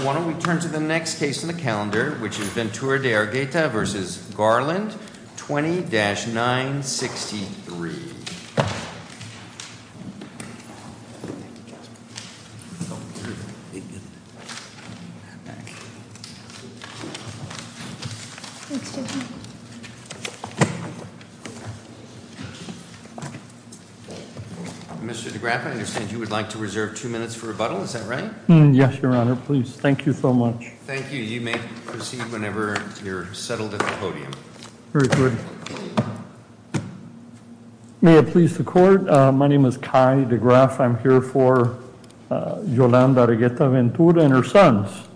20-963 Mr. DeGraffa, I understand you would like to reserve two minutes for rebuttal, is that right? Yes, your honor, please. Thank you so much. Thank you. You may proceed whenever you're settled at the podium. Very good. May it please the court, my name is Kai DeGraffa, I'm here for Yolanda Argueta-Ventura and her sons.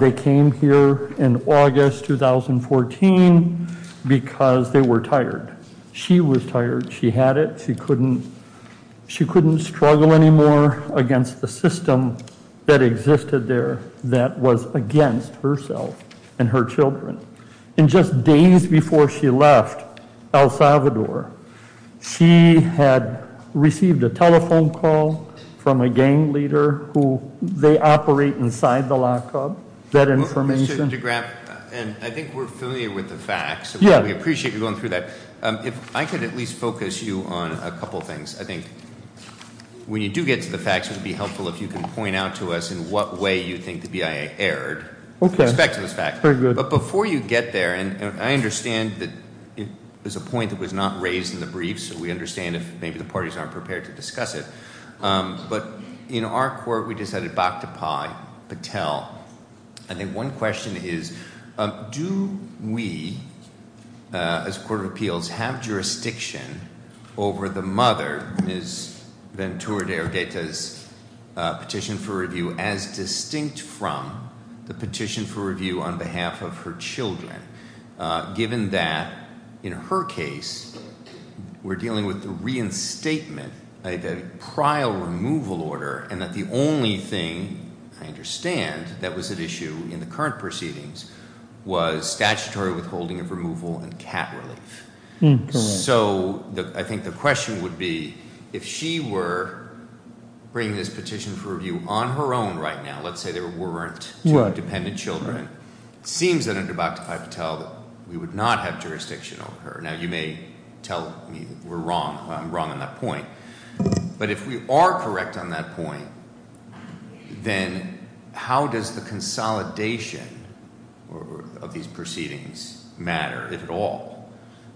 They came here in August 2014 because they were tired. She was tired, she had it, she couldn't struggle anymore against the system that existed there that was against herself and her children. And just days before she left El Salvador, she had received a telephone call from a gang leader who they operate inside the lockup, that information. Mr. DeGraffa, I think we're familiar with the facts. Yeah. We appreciate you going through that. If I could at least focus you on a couple things. I think when you do get to the facts, it would be helpful if you could point out to us in what way you think the BIA erred. Okay. With respect to this fact. That's very good. But before you get there, and I understand that it was a point that was not raised in the brief, so we understand if maybe the parties aren't prepared to discuss it. But in our court, we decided, Bakhtapai, Patel. I think one question is, do we, as a court of appeals, have jurisdiction over the mother, Ms. Ventura de Argueta's petition for review, as distinct from the petition for review on behalf of her children? Given that, in her case, we're dealing with the reinstatement, the prior removal order, and that the only thing, I understand, that was at issue in the current proceedings was statutory withholding of removal and cat relief. So I think the question would be, if she were bringing this petition for review on her own right now, let's say there weren't two dependent children, it seems that under Bakhtapai Patel that we would not have jurisdiction over her. Now, you may tell me that we're wrong. I'm wrong on that point. But if we are correct on that point, then how does the consolidation of these proceedings matter, if at all?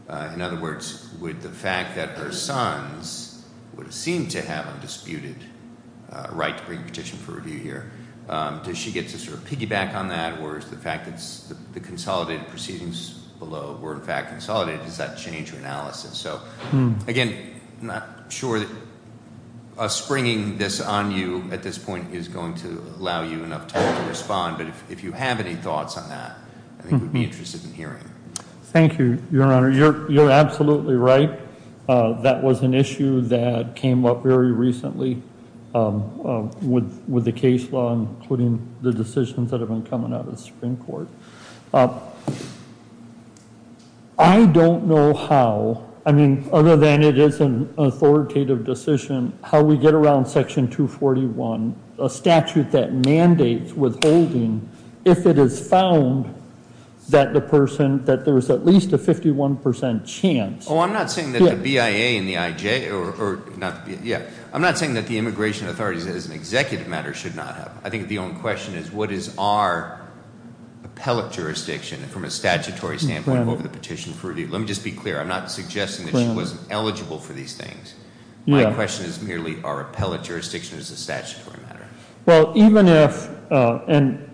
In other words, would the fact that her sons would seem to have a disputed right to bring a petition for review here, does she get to sort of piggyback on that? Or is the fact that the consolidated proceedings below were, in fact, consolidated, does that change her analysis? So, again, I'm not sure that us bringing this on you at this point is going to allow you enough time to respond. But if you have any thoughts on that, I think we'd be interested in hearing. Thank you, Your Honor. You're absolutely right. That was an issue that came up very recently with the case law, including the decisions that have been coming out of the Supreme Court. I don't know how, I mean, other than it is an authoritative decision, how we get around Section 241, a statute that mandates withholding if it is found that the person, that there is at least a 51% chance. Oh, I'm not saying that the BIA and the IJ, yeah, I'm not saying that the immigration authorities as an executive matter should not have. I think the only question is what is our appellate jurisdiction from a statutory standpoint over the petition for review? Let me just be clear, I'm not suggesting that she wasn't eligible for these things. My question is merely our appellate jurisdiction as a statutory matter. Well, even if, and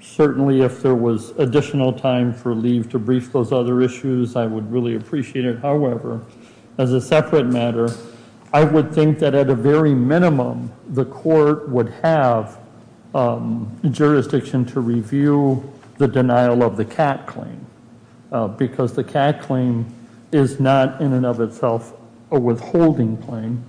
certainly if there was additional time for leave to brief those other issues, I would really appreciate it. However, as a separate matter, I would think that at a very minimum, the court would have jurisdiction to review the denial of the CAT claim, because the CAT claim is not in and of itself a withholding claim.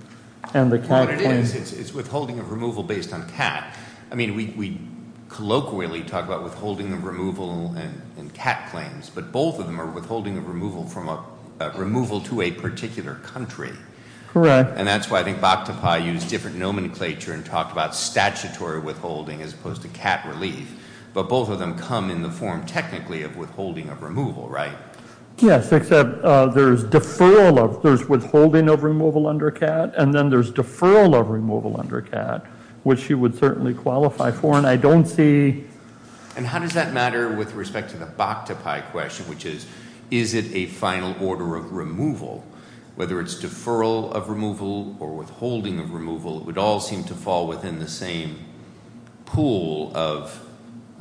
What it is, it's withholding of removal based on CAT. I mean, we colloquially talk about withholding of removal in CAT claims, but both of them are withholding of removal from a removal to a particular country. Correct. And that's why I think Bakhtapai used different nomenclature and talked about statutory withholding as opposed to CAT relief. But both of them come in the form technically of withholding of removal, right? Yes, except there's deferral of, there's withholding of removal under CAT, and then there's deferral of removal under CAT, which she would certainly qualify for, and I don't see. And how does that matter with respect to the Bakhtapai question, which is, is it a final order of removal? Whether it's deferral of removal or withholding of removal, it would all seem to fall within the same pool of,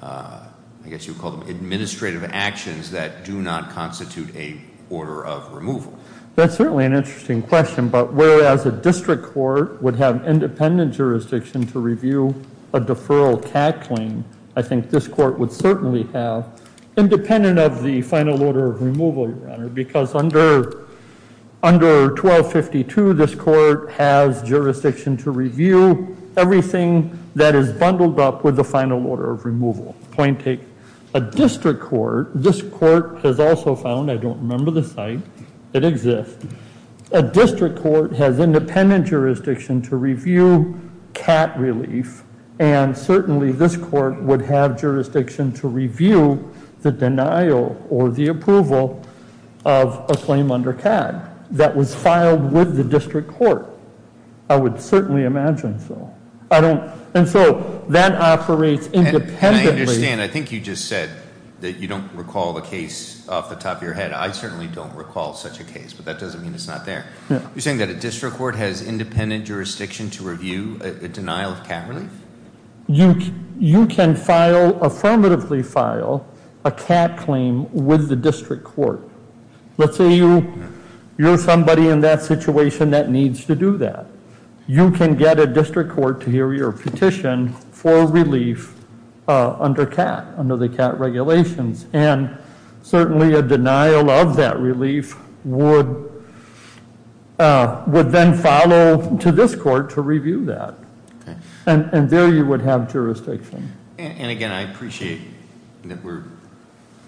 I guess you would call them, administrative actions that do not constitute a order of removal. That's certainly an interesting question, but whereas a district court would have independent jurisdiction to review a deferral CAT claim, I think this court would certainly have, independent of the final order of removal, Your Honor, because under 1252, this court has jurisdiction to review everything that is bundled up with the final order of removal. Point take. A district court, this court has also found, I don't remember the site, it exists. A district court has independent jurisdiction to review CAT relief, and certainly this court would have jurisdiction to review the denial or the approval of a claim under CAT that was filed with the district court. I would certainly imagine so. I don't, and so that operates independently. And I understand, I think you just said that you don't recall the case off the top of your head. I certainly don't recall such a case, but that doesn't mean it's not there. You're saying that a district court has independent jurisdiction to review a denial of CAT relief? You can file, affirmatively file, a CAT claim with the district court. Let's say you're somebody in that situation that needs to do that. You can get a district court to hear your petition for relief under CAT, under the CAT regulations, and certainly a denial of that relief would then follow to this court to review that. And there you would have jurisdiction. And again, I appreciate that we're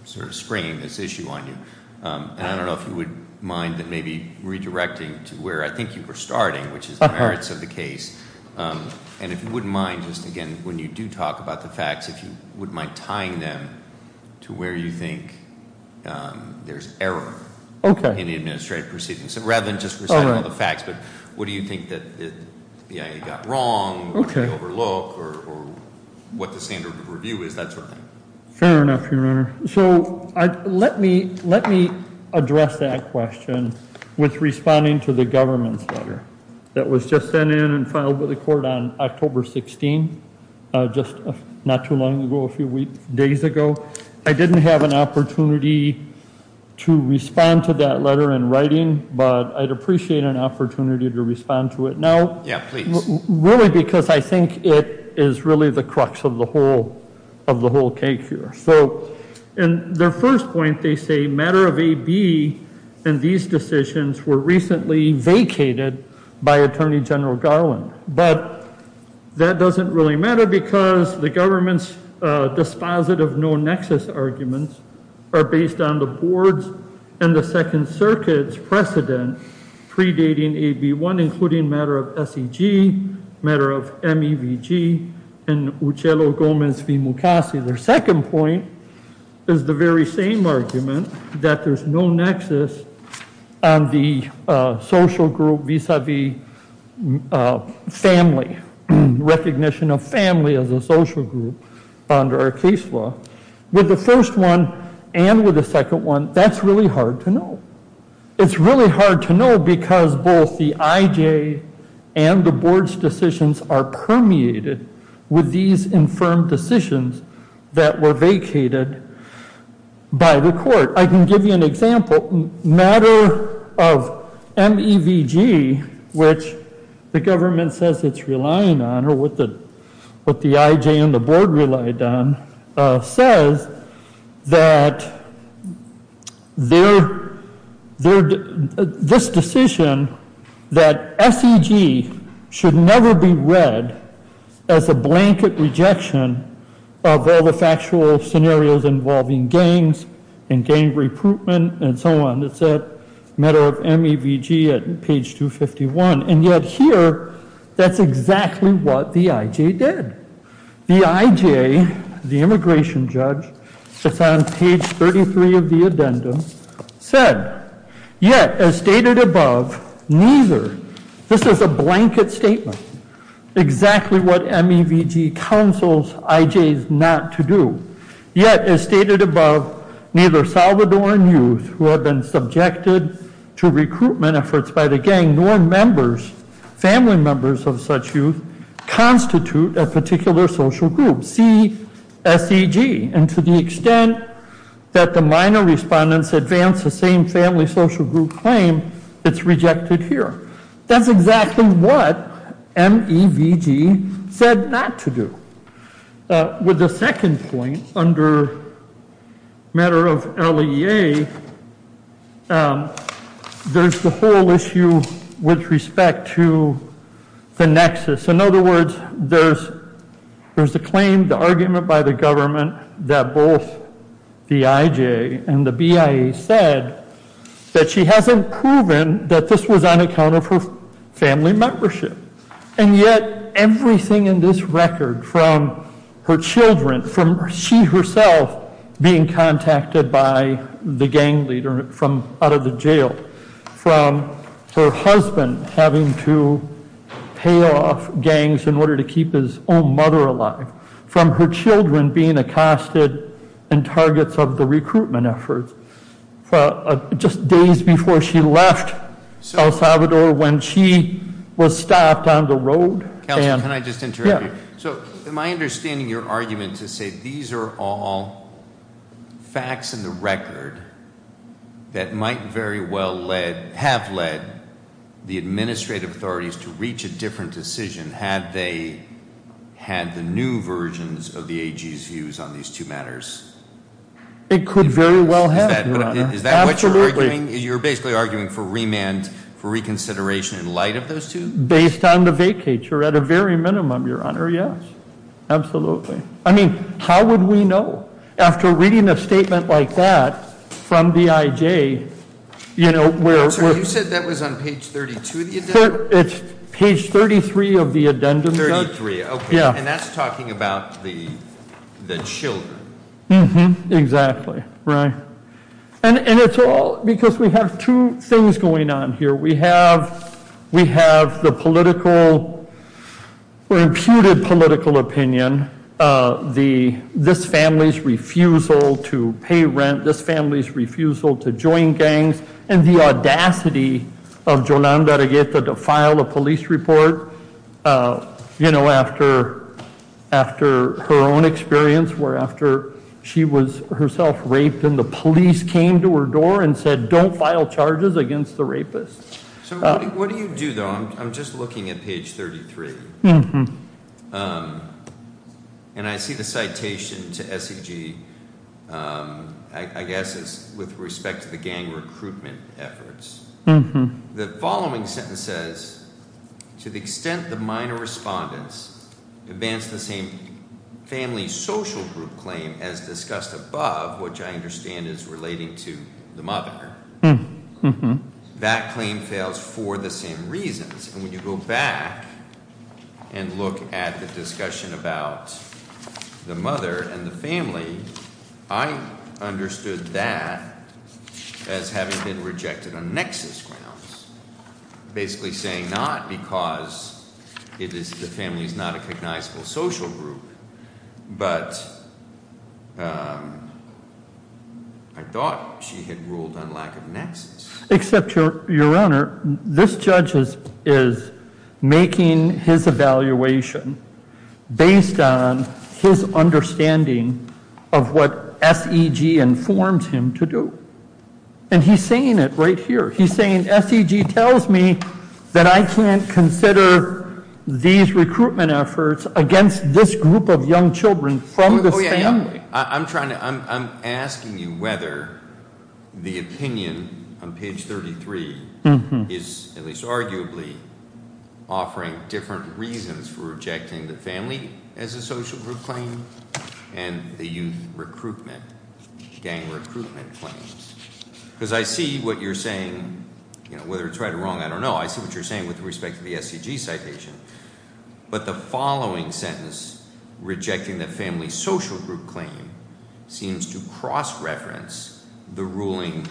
sort of springing this issue on you. And I don't know if you would mind maybe redirecting to where I think you were starting, which is the merits of the case. And if you wouldn't mind, just again, when you do talk about the facts, if you wouldn't mind tying them to where you think there's error in the administrative proceedings. So rather than just reciting all the facts, but what do you think that the BIA got wrong, what did they overlook, or what the standard of review is, that sort of thing. Fair enough, Your Honor. So let me address that question with responding to the government's letter that was just sent in and filed with the court on October 16th, just not too long ago, a few days ago. I didn't have an opportunity to respond to that letter in writing, but I'd appreciate an opportunity to respond to it now. Yeah, please. Really because I think it is really the crux of the whole cake here. So in their first point, they say matter of AB and these decisions were recently vacated by Attorney General Garland. But that doesn't really matter because the government's dispositive no-nexus arguments are based on the board's and the Second Circuit's precedent predating AB1, including matter of SEG, matter of MEVG, and Uccello-Gomez v. Mukasey. Their second point is the very same argument that there's no nexus on the social group vis-a-vis family, recognition of family as a social group under our case law. With the first one and with the second one, that's really hard to know. It's really hard to know because both the IJ and the board's decisions are permeated with these infirm decisions that were vacated by the court. I can give you an example. Matter of MEVG, which the government says it's relying on or what the IJ and the board relied on, says that this decision that SEG should never be read as a blanket rejection of all the factual scenarios involving gangs and gang recruitment and so on. It's at matter of MEVG at page 251. And yet here, that's exactly what the IJ did. The IJ, the immigration judge, it's on page 33 of the addendum, said, yet as stated above, neither, this is a blanket statement, exactly what MEVG counsels IJs not to do. Yet as stated above, neither Salvadoran youth who have been subjected to recruitment efforts by the gang nor members, family members of such youth constitute a particular social group. See SEG. And to the extent that the minor respondents advance the same family social group claim, it's rejected here. That's exactly what MEVG said not to do. With the second point, under matter of LEA, there's the whole issue with respect to the nexus. In other words, there's the claim, the argument by the government that both the IJ and the BIA said that she hasn't proven that this was on account of her family membership. And yet everything in this record from her children, from she herself being contacted by the gang leader from out of the jail, from her husband having to pay off gangs in order to keep his own mother alive, from her children being accosted and targets of the recruitment efforts, just days before she left El Salvador when she was stopped on the road. And- Counselor, can I just interrupt you? Yeah. So am I understanding your argument to say these are all facts in the record that might very well have led the administrative authorities to reach a different decision had they had the new versions of the AG's views on these two matters? It could very well have, Your Honor. Absolutely. Is that what you're arguing? You're basically arguing for remand, for reconsideration in light of those two? Based on the vacature, at a very minimum, Your Honor, yes. Absolutely. I mean, how would we know? After reading a statement like that from the IJ, you know, where- Counselor, you said that was on page 32 of the addendum? It's page 33 of the addendum. 33. Okay. Yeah. And that's talking about the children. Mm-hmm. Exactly. Right. And it's all because we have two things going on here. We have the political or imputed political opinion, this family's refusal to pay rent, this family's refusal to join gangs, and the audacity of Jolanda Arregueta to file a police report, you know, after her own experience where after she was herself raped and the police came to her door and said, don't file charges against the rapist. So what do you do, though? I'm just looking at page 33. Mm-hmm. And I see the citation to SEG, I guess it's with respect to the gang recruitment efforts. The following sentence says, to the extent the minor respondents advance the same family social group claim as discussed above, which I understand is relating to the mother, that claim fails for the same reasons. And when you go back and look at the discussion about the mother and the family, I understood that as having been rejected on nexus grounds, basically saying not because the family is not a recognizable social group, but I thought she had ruled on lack of nexus. Except, Your Honor, this judge is making his evaluation based on his understanding of what SEG informs him to do. And he's saying it right here. He's saying SEG tells me that I can't consider these recruitment efforts against this group of young children from this family. I'm asking you whether the opinion on page 33 is, at least arguably, offering different reasons for rejecting the family as a social group claim and the youth gang recruitment claims. Because I see what you're saying, whether it's right or wrong, I don't know. I see what you're saying with respect to the SEG citation. But the following sentence, rejecting the family social group claim, seems to cross-reference the ruling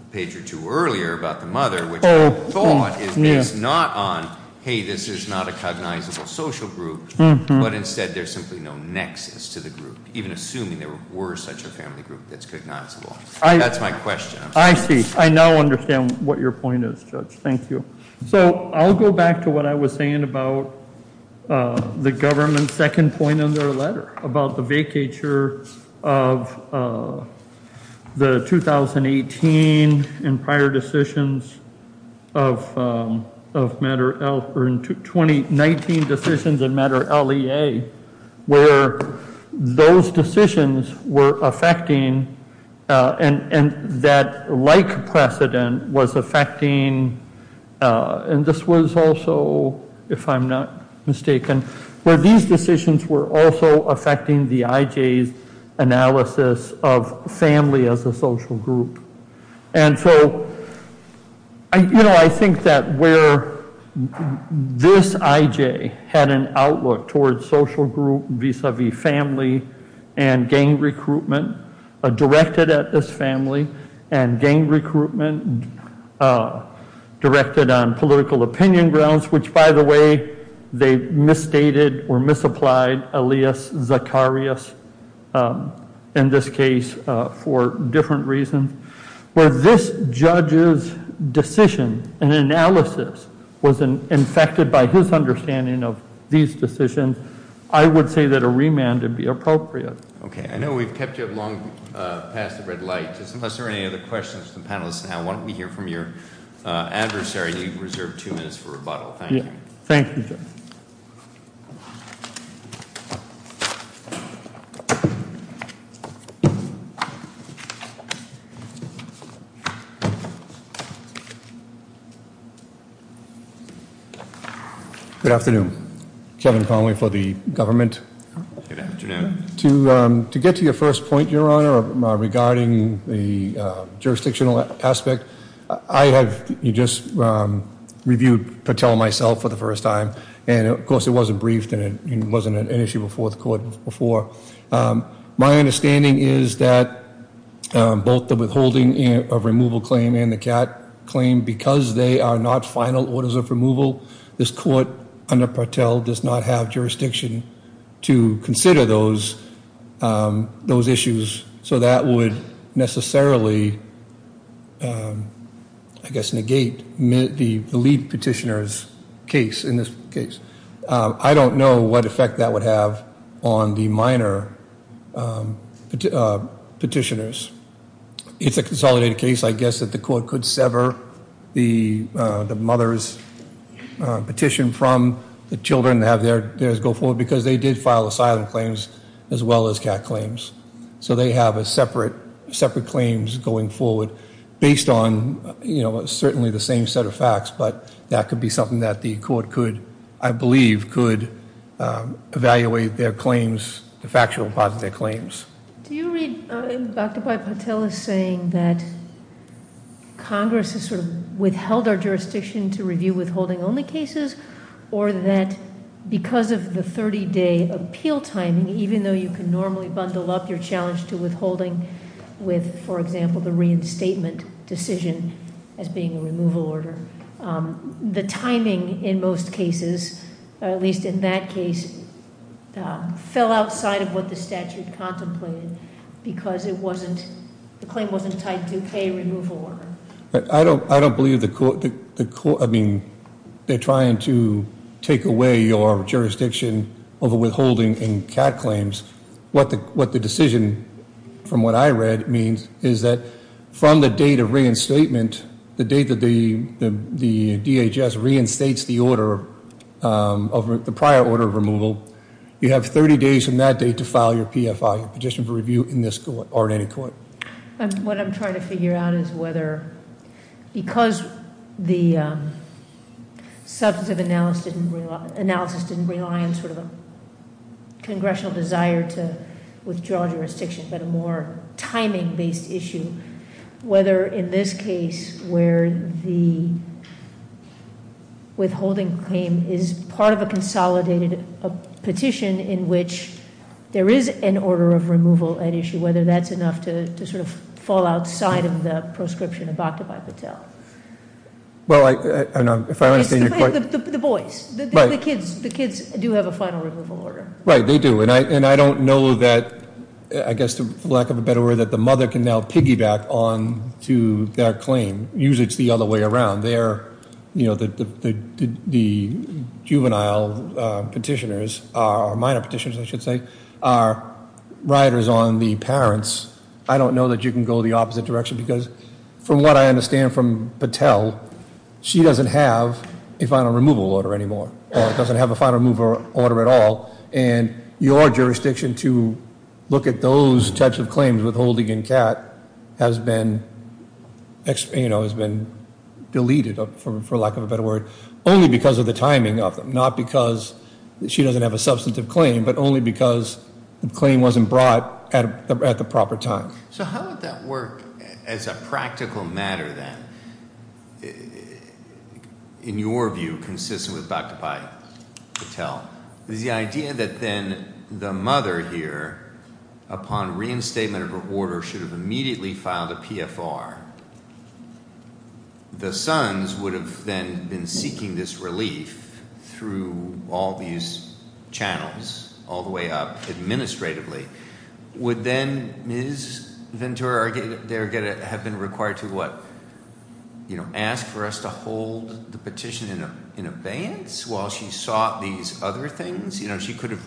a page or two earlier about the mother, which I thought is based not on, hey, this is not a cognizable social group, but instead there's simply no nexus to the group, even assuming there were such a family group that's cognizable. That's my question. I see. I now understand what your point is, Judge. Thank you. So I'll go back to what I was saying about the government's second point in their letter, about the vacature of the 2018 and prior decisions of matter, 2019 decisions in matter LEA, where those decisions were affecting and that like precedent was affecting, and this was also, if I'm not mistaken, where these decisions were also affecting the IJ's analysis of family as a social group. And so I think that where this IJ had an outlook towards social group vis-a-vis family and gang recruitment directed at this family and gang recruitment directed on political opinion grounds, which, by the way, they misstated or misapplied alias Zacharias in this case for different reasons, where this judge's decision and analysis was infected by his understanding of these decisions, I would say that a remand would be appropriate. Okay. I know we've kept you up long past the red light. Unless there are any other questions from the panelists now, why don't we hear from your adversary? You've reserved two minutes for rebuttal. Thank you. Good afternoon. Kevin Conway for the government. Good afternoon. To get to your first point, Your Honor, regarding the jurisdictional aspect, I have just reviewed Patel myself for the first time. And, of course, it wasn't briefed and it wasn't an issue before the court before. My understanding is that both the withholding of removal claim and the CAT claim, because they are not final orders of removal, this court under Patel does not have jurisdiction to consider those issues. So that would necessarily, I guess, negate the lead petitioner's case in this case. I don't know what effect that would have on the minor petitioners. It's a consolidated case, I guess, that the court could sever the mother's petition from the children that have theirs go forward because they did file asylum claims as well as CAT claims. So they have separate claims going forward based on, you know, certainly the same set of facts. But that could be something that the court could, I believe, could evaluate their claims, the factual part of their claims. Do you read Dr. Patel as saying that Congress has sort of withheld our jurisdiction to review withholding-only cases or that because of the 30-day appeal timing, even though you can normally bundle up your challenge to withholding with, for example, the reinstatement decision as being a removal order, the timing in most cases, or at least in that case, fell outside of what the statute contemplated because the claim wasn't tied to a pay removal order? I don't believe the court, I mean, they're trying to take away your jurisdiction over withholding in CAT claims. What the decision, from what I read, means is that from the date of reinstatement, the date that the DHS reinstates the order, the prior order of removal, you have 30 days from that date to file your PFI, your petition for review in this court or in any court. What I'm trying to figure out is whether because the substantive analysis didn't rely on sort of a congressional desire to withdraw jurisdiction but a more timing-based issue, whether in this case where the withholding claim is part of a consolidated petition in which there is an order of removal at issue, whether that's enough to sort of fall outside of the proscription of Bakhtabai Patel. Well, I don't know if I understand your question. It's the boys, the kids. The kids do have a final removal order. Right, they do. And I don't know that, I guess for lack of a better word, that the mother can now piggyback on to their claim. Usually it's the other way around. They're, you know, the juvenile petitioners, or minor petitioners I should say, are riders on the parents. I don't know that you can go the opposite direction because from what I understand from Patel, she doesn't have a final removal order anymore, or doesn't have a final removal order at all. And your jurisdiction to look at those types of claims, withholding and CAT, has been, you know, has been deleted, for lack of a better word, only because of the timing of them. Not because she doesn't have a substantive claim, but only because the claim wasn't brought at the proper time. So how would that work as a practical matter then? In your view, consistent with Dr. Patel, is the idea that then the mother here, upon reinstatement of her order, should have immediately filed a PFR. The sons would have then been seeking this relief through all these channels, all the way up administratively. Would then Ms. Ventura have been required to, what, you know, ask for us to hold the petition in abeyance while she sought these other things? You know, she could have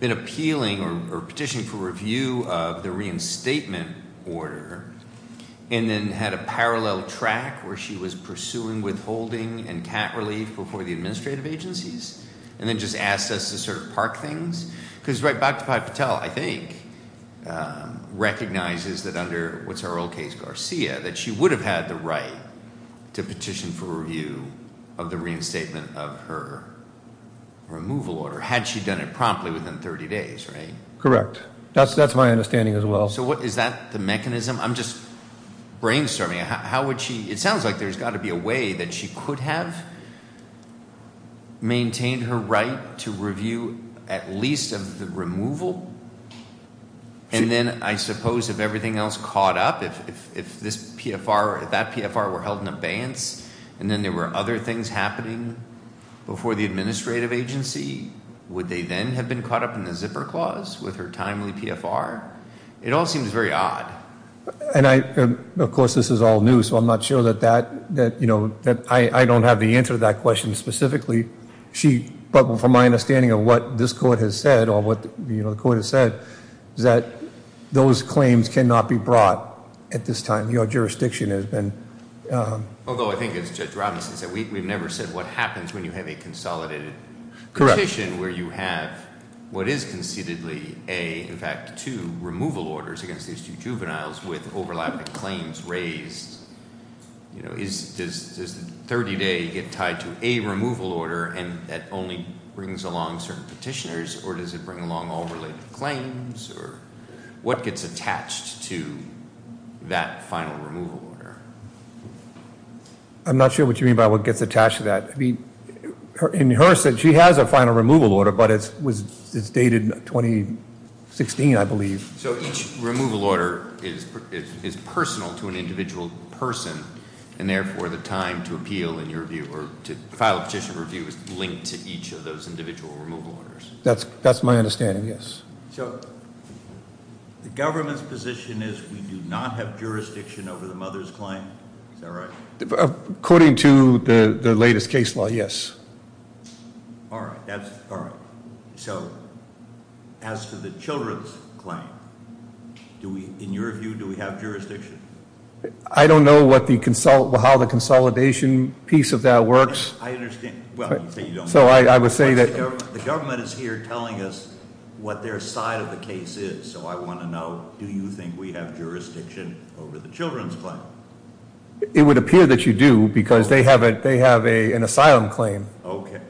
been appealing or petitioning for review of the reinstatement order, and then had a parallel track where she was pursuing withholding and CAT relief before the administrative agencies, and then just asked us to sort of park things? Because Dr. Patel, I think, recognizes that under, what's her old case, Garcia, that she would have had the right to petition for review of the reinstatement of her removal order, had she done it promptly within 30 days, right? Correct. That's my understanding as well. So is that the mechanism? I'm just brainstorming. It sounds like there's got to be a way that she could have maintained her right to review at least of the removal, and then I suppose if everything else caught up, if that PFR were held in abeyance, and then there were other things happening before the administrative agency, would they then have been caught up in the zipper clause with her timely PFR? It all seems very odd. And, of course, this is all new, so I'm not sure that I don't have the answer to that question specifically. But from my understanding of what this court has said, or what the court has said, is that those claims cannot be brought at this time. Your jurisdiction has been- Although I think, as Judge Robinson said, we've never said what happens when you have a consolidated petition, where you have what is concededly a, in fact, two removal orders against these two juveniles with overlapping claims raised. Does 30-day get tied to a removal order, and that only brings along certain petitioners, or does it bring along all related claims, or what gets attached to that final removal order? I'm not sure what you mean by what gets attached to that. In her sense, she has a final removal order, but it's dated 2016, I believe. So each removal order is personal to an individual person, and therefore, the time to appeal in your view, or to file a petition review, is linked to each of those individual removal orders. That's my understanding, yes. So the government's position is we do not have jurisdiction over the mother's claim? Is that right? According to the latest case law, yes. All right, so as to the children's claim, in your view, do we have jurisdiction? I don't know how the consolidation piece of that works. I understand. Well, you say you don't know. So I would say that- The government is here telling us what their side of the case is. So I want to know, do you think we have jurisdiction over the children's claim? It would appear that you do, because they have an asylum claim. Okay.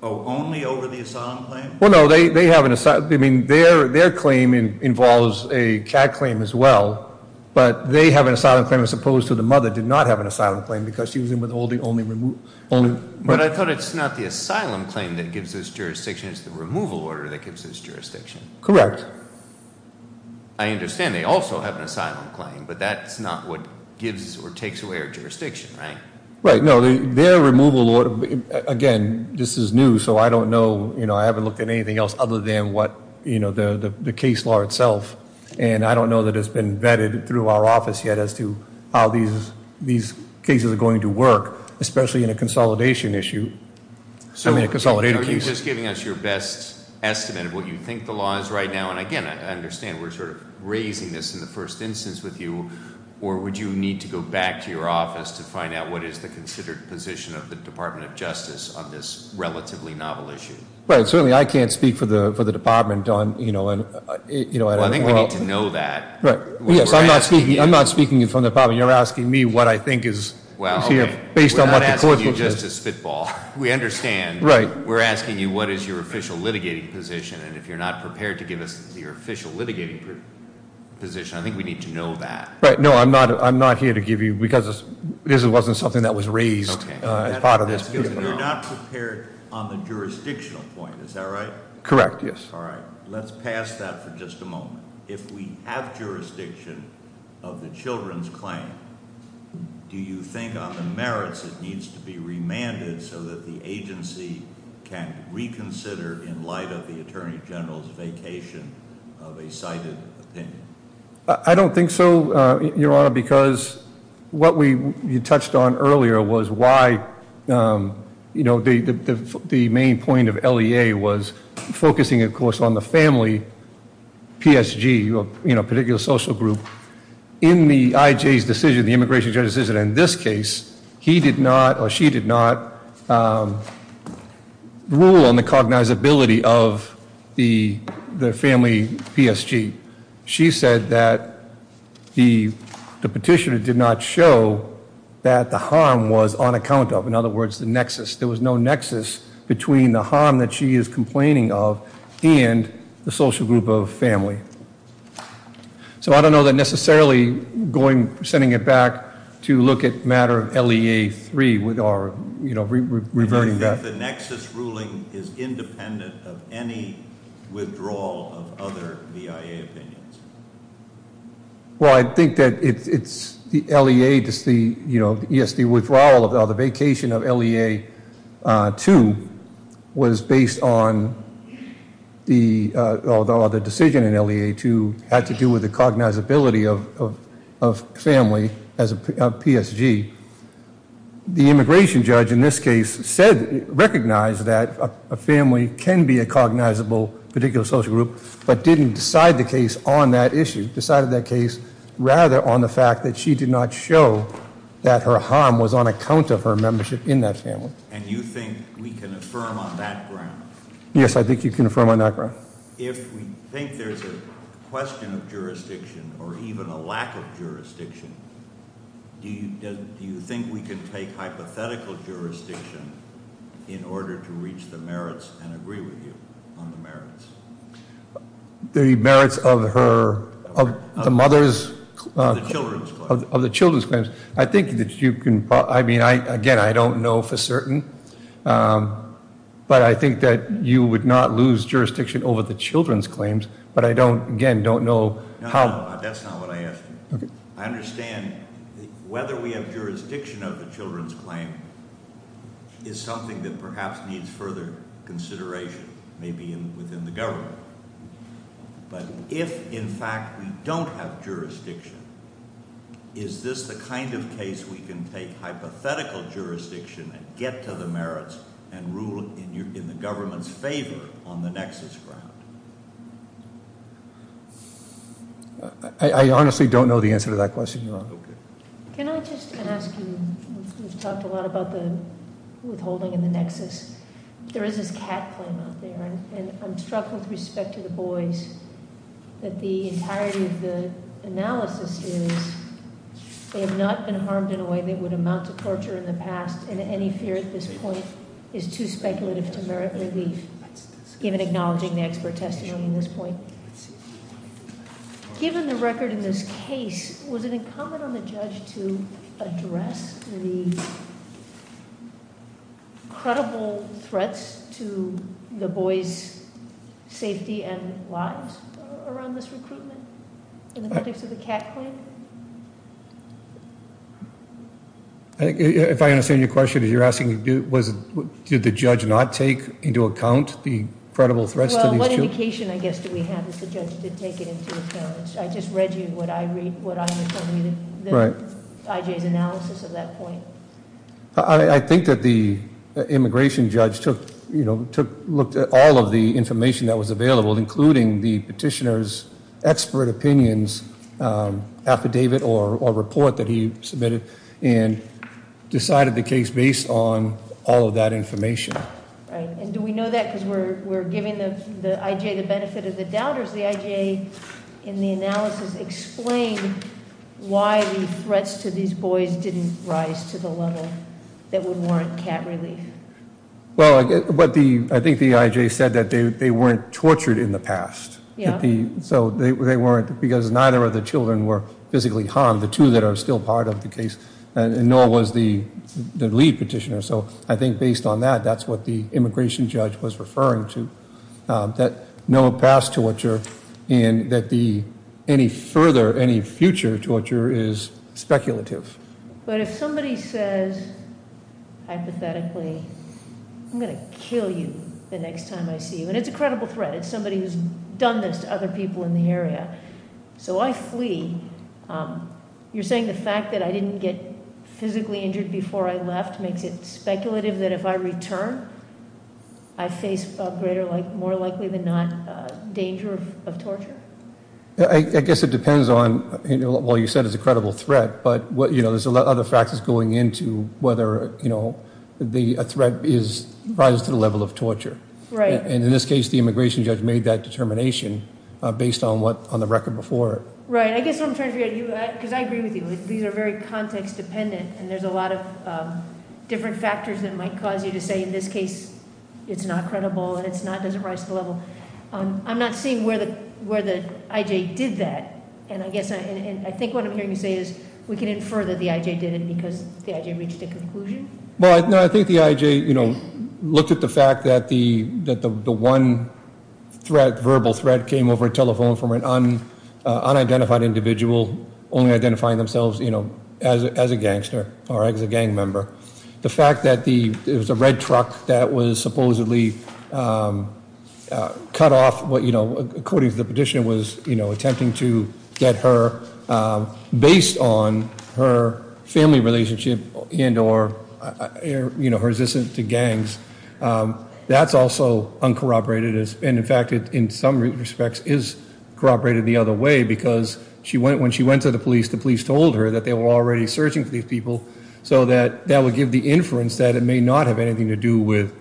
Oh, only over the asylum claim? Well, no, they have an asylum- I mean, their claim involves a CAD claim as well, but they have an asylum claim, as opposed to the mother did not have an asylum claim, because she was in with only- But I thought it's not the asylum claim that gives us jurisdiction, it's the removal order that gives us jurisdiction. Correct. I understand they also have an asylum claim, but that's not what gives or takes away our jurisdiction, right? Right, no. Their removal order, again, this is new, so I don't know. I haven't looked at anything else other than the case law itself, and I don't know that it's been vetted through our office yet as to how these cases are going to work, especially in a consolidation issue, I mean a consolidating case. Are you just giving us your best estimate of what you think the law is right now? And, again, I understand we're sort of raising this in the first instance with you, or would you need to go back to your office to find out what is the considered position of the Department of Justice on this relatively novel issue? Right, certainly I can't speak for the department on- Well, I think we need to know that. Yes, I'm not speaking from the department. You're asking me what I think is here based on what the court- We're not asking you just to spitball. We understand. Right. We're asking you what is your official litigating position, and if you're not prepared to give us your official litigating position, I think we need to know that. Right. No, I'm not here to give you, because this wasn't something that was raised as part of this- Okay. You're not prepared on the jurisdictional point, is that right? All right. Let's pass that for just a moment. If we have jurisdiction of the children's claim, do you think on the merits it needs to be remanded so that the agency can reconsider in light of the attorney general's vacation of a cited opinion? I don't think so, Your Honor, because what you touched on earlier was why the main point of LEA was focusing, of course, on the family PSG, a particular social group. In the IJ's decision, the immigration judge's decision in this case, he did not or she did not rule on the cognizability of the family PSG. She said that the petitioner did not show that the harm was on account of. In other words, the nexus. There was no nexus between the harm that she is complaining of and the social group of family. So I don't know that necessarily sending it back to look at matter of LEA 3 or reverting that. If the nexus ruling is independent of any withdrawal of other BIA opinions. Well, I think that it's the LEA to see, you know, yes, the withdrawal of the vacation of LEA 2 was based on the decision in LEA 2 had to do with the cognizability of family as a PSG. The immigration judge in this case said, recognized that a family can be a cognizable particular social group, but didn't decide the case on that issue. Decided that case rather on the fact that she did not show that her harm was on account of her membership in that family. And you think we can affirm on that ground? Yes, I think you can affirm on that ground. If we think there's a question of jurisdiction or even a lack of jurisdiction, do you think we can take hypothetical jurisdiction in order to reach the merits and agree with you on the merits? The merits of her, of the mother's- Of the children's claims. Of the children's claims. I think that you can, I mean, again, I don't know for certain. But I think that you would not lose jurisdiction over the children's claims. But I don't, again, don't know how- No, that's not what I asked you. I understand whether we have jurisdiction of the children's claim is something that perhaps needs further consideration, maybe within the government. But if, in fact, we don't have jurisdiction, is this the kind of case we can take hypothetical jurisdiction and get to the merits and rule in the government's favor on the nexus ground? I honestly don't know the answer to that question, Your Honor. Okay. Can I just ask you, we've talked a lot about the withholding and the nexus. There is this cat claim out there. And I'm struck with respect to the boys that the entirety of the analysis is they have not been harmed in a way that would amount to torture in the past. And any fear at this point is too speculative to merit relief, given acknowledging the expert testimony at this point. Given the record in this case, was it incumbent on the judge to address the credible threats to the boys' safety and lives around this recruitment in the context of the cat claim? If I understand your question, you're asking did the judge not take into account the credible threats to these children? What indication, I guess, do we have that the judge did take it into account? I just read you what I read, what I read from the IJ's analysis at that point. I think that the immigration judge looked at all of the information that was available, including the petitioner's expert opinions, affidavit or report that he submitted, and decided the case based on all of that information. And do we know that because we're giving the IJ the benefit of the doubt? Or does the IJ, in the analysis, explain why the threats to these boys didn't rise to the level that would warrant cat relief? Well, I think the IJ said that they weren't tortured in the past. Yeah. So they weren't, because neither of the children were physically harmed, the two that are still part of the case, nor was the lead petitioner. So I think based on that, that's what the immigration judge was referring to, that no past torture and that any further, any future torture is speculative. But if somebody says, hypothetically, I'm going to kill you the next time I see you, and it's a credible threat. It's somebody who's done this to other people in the area. So I flee. You're saying the fact that I didn't get physically injured before I left makes it speculative that if I return, I face a greater, more likely than not, danger of torture? I guess it depends on, well, you said it's a credible threat. But there's other factors going into whether a threat rises to the level of torture. Right. And in this case, the immigration judge made that determination based on the record before it. Right. I guess what I'm trying to figure out, because I agree with you, these are very context dependent. And there's a lot of different factors that might cause you to say, in this case, it's not credible and it doesn't rise to the level. I'm not seeing where the IJ did that. And I think what I'm hearing you say is we can infer that the IJ did it because the IJ reached a conclusion? Well, I think the IJ looked at the fact that the one verbal threat came over a telephone from an unidentified individual, only identifying themselves as a gangster or as a gang member. The fact that it was a red truck that was supposedly cut off, according to the petition, was attempting to get her, based on her family relationship and or her resistance to gangs. That's also uncorroborated. And in fact, in some respects, is corroborated the other way. Because when she went to the police, the police told her that they were already searching for these people. So that would give the inference that it may not have anything to do with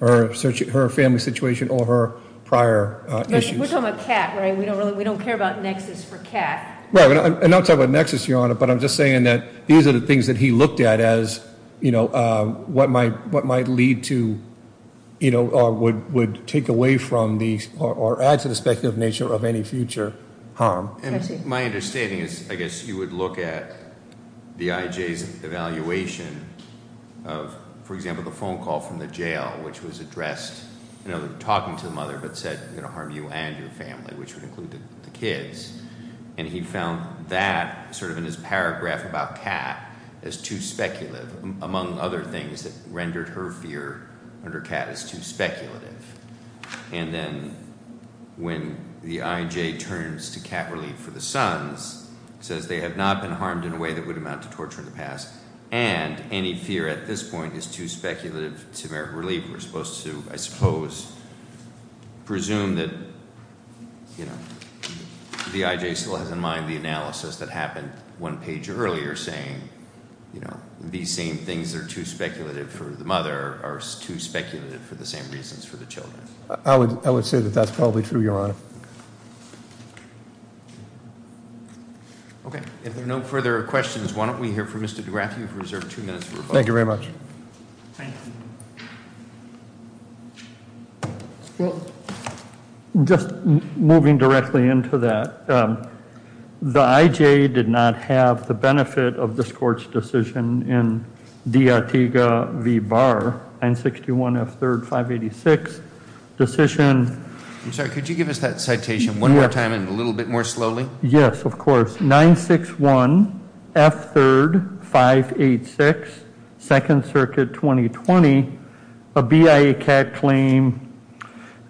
her family situation or her prior issues. We're talking about CAT, right? We don't care about nexus for CAT. Right, and I'm not talking about nexus, Your Honor, but I'm just saying that these are the things that he looked at as what might lead to or would take away from or add to the speculative nature of any future harm. And my understanding is, I guess, you would look at the IJ's evaluation of, for example, the phone call from the jail, which was addressed, talking to the mother, but said, I'm going to harm you and your family, which would include the kids. And he found that, sort of in his paragraph about CAT, as too speculative, among other things that rendered her fear under CAT as too speculative. And then when the IJ turns to CAT relief for the sons, says they have not been harmed in a way that would amount to torture in the past. And any fear at this point is too speculative to merit relief. We're supposed to, I suppose, presume that the IJ still has in mind the analysis that happened one page earlier saying, these same things are too speculative for the mother, are too speculative for the same reasons for the children. I would say that that's probably true, Your Honor. Okay, if there are no further questions, why don't we hear from Mr. DeGraff? You've reserved two minutes for rebuttal. Thank you very much. Well, just moving directly into that, the IJ did not have the benefit of this court's decision in D. Artiga v. Barr, 961 F. 3rd 586 decision. I'm sorry, could you give us that citation one more time and a little bit more slowly? Yes, of course. 961 F. 3rd 586, 2nd Circuit 2020, a BIA CAC claim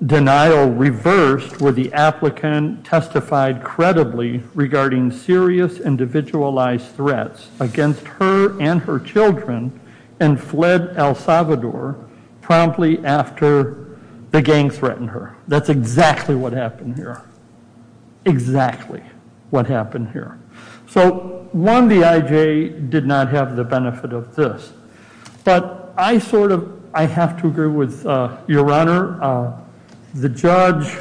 denial reversed where the applicant testified credibly regarding serious individualized threats against her and her children and fled El Salvador promptly after the gang threatened her. That's exactly what happened here, exactly what happened here. So one, the IJ did not have the benefit of this. But I sort of, I have to agree with Your Honor, the judge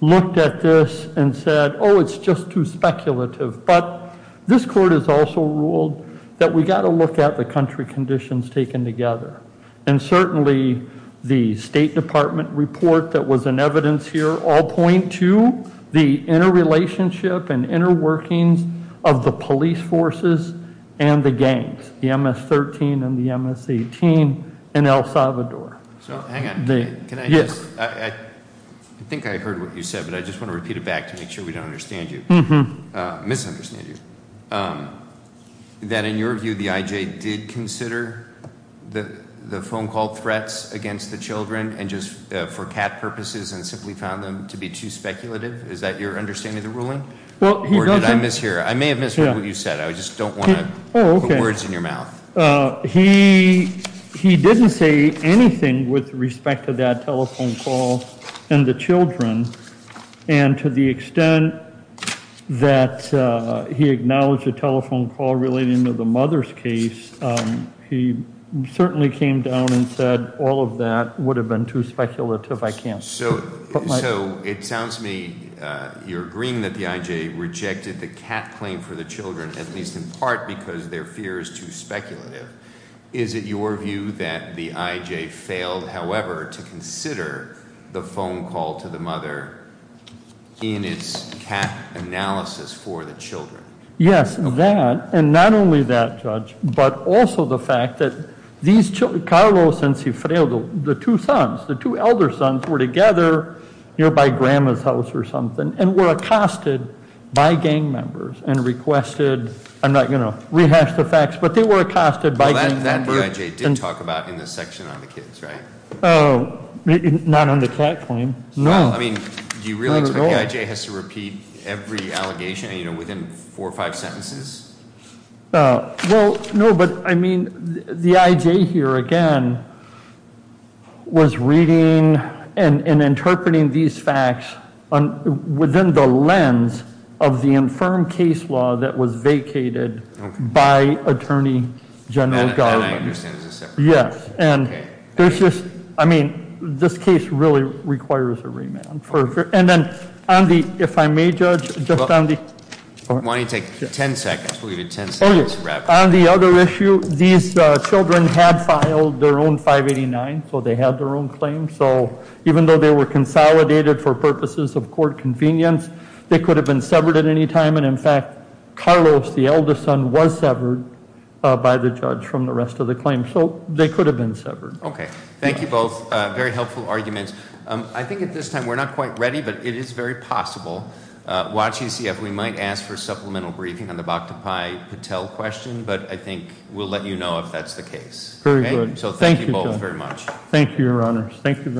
looked at this and said, oh, it's just too speculative. But this court has also ruled that we've got to look at the country conditions taken together. And certainly the State Department report that was in evidence here all point to the interrelationship and interworkings of the police forces and the gangs, the MS-13 and the MS-18 in El Salvador. So hang on, can I just, I think I heard what you said, but I just want to repeat it back to make sure we don't understand you, misunderstand you. That in your view, the IJ did consider the phone call threats against the children and just for cat purposes and simply found them to be too speculative? Is that your understanding of the ruling? Or did I mishear? I may have misheard what you said. I just don't want to put words in your mouth. He didn't say anything with respect to that telephone call and the children. And to the extent that he acknowledged the telephone call relating to the mother's case, he certainly came down and said all of that would have been too speculative. So it sounds to me you're agreeing that the IJ rejected the cat claim for the children, at least in part because their fear is too speculative. Is it your view that the IJ failed, however, to consider the phone call to the mother in its cat analysis for the children? Yes, that, and not only that, Judge, but also the fact that Carlos and Cifredo, the two sons, the two elder sons were together nearby Grandma's house or something and were accosted by gang members and requested, I'm not going to rehash the facts, but they were accosted by gang members. That the IJ did talk about in the section on the kids, right? Not on the cat claim. No, I mean, do you really expect the IJ has to repeat every allegation, you know, within four or five sentences? Well, no, but I mean, the IJ here, again, was reading and interpreting these facts within the lens of the infirm case law that was vacated by Attorney General Garland. And I understand it was a separate case. Yes, and there's just, I mean, this case really requires a remand. And then on the, if I may, Judge, just on the... Why don't you take ten seconds, we'll give you ten seconds to wrap up. On the other issue, these children had filed their own 589, so they had their own claim, so even though they were consolidated for purposes of court convenience, they could have been severed at any time. And, in fact, Carlos, the eldest son, was severed by the judge from the rest of the claim. So they could have been severed. Okay, thank you both. Very helpful arguments. I think at this time we're not quite ready, but it is very possible. Watching CF, we might ask for supplemental briefing on the Bhaktapai Patel question, but I think we'll let you know if that's the case. Very good. So thank you both very much. Thank you, Your Honors. Thank you very much.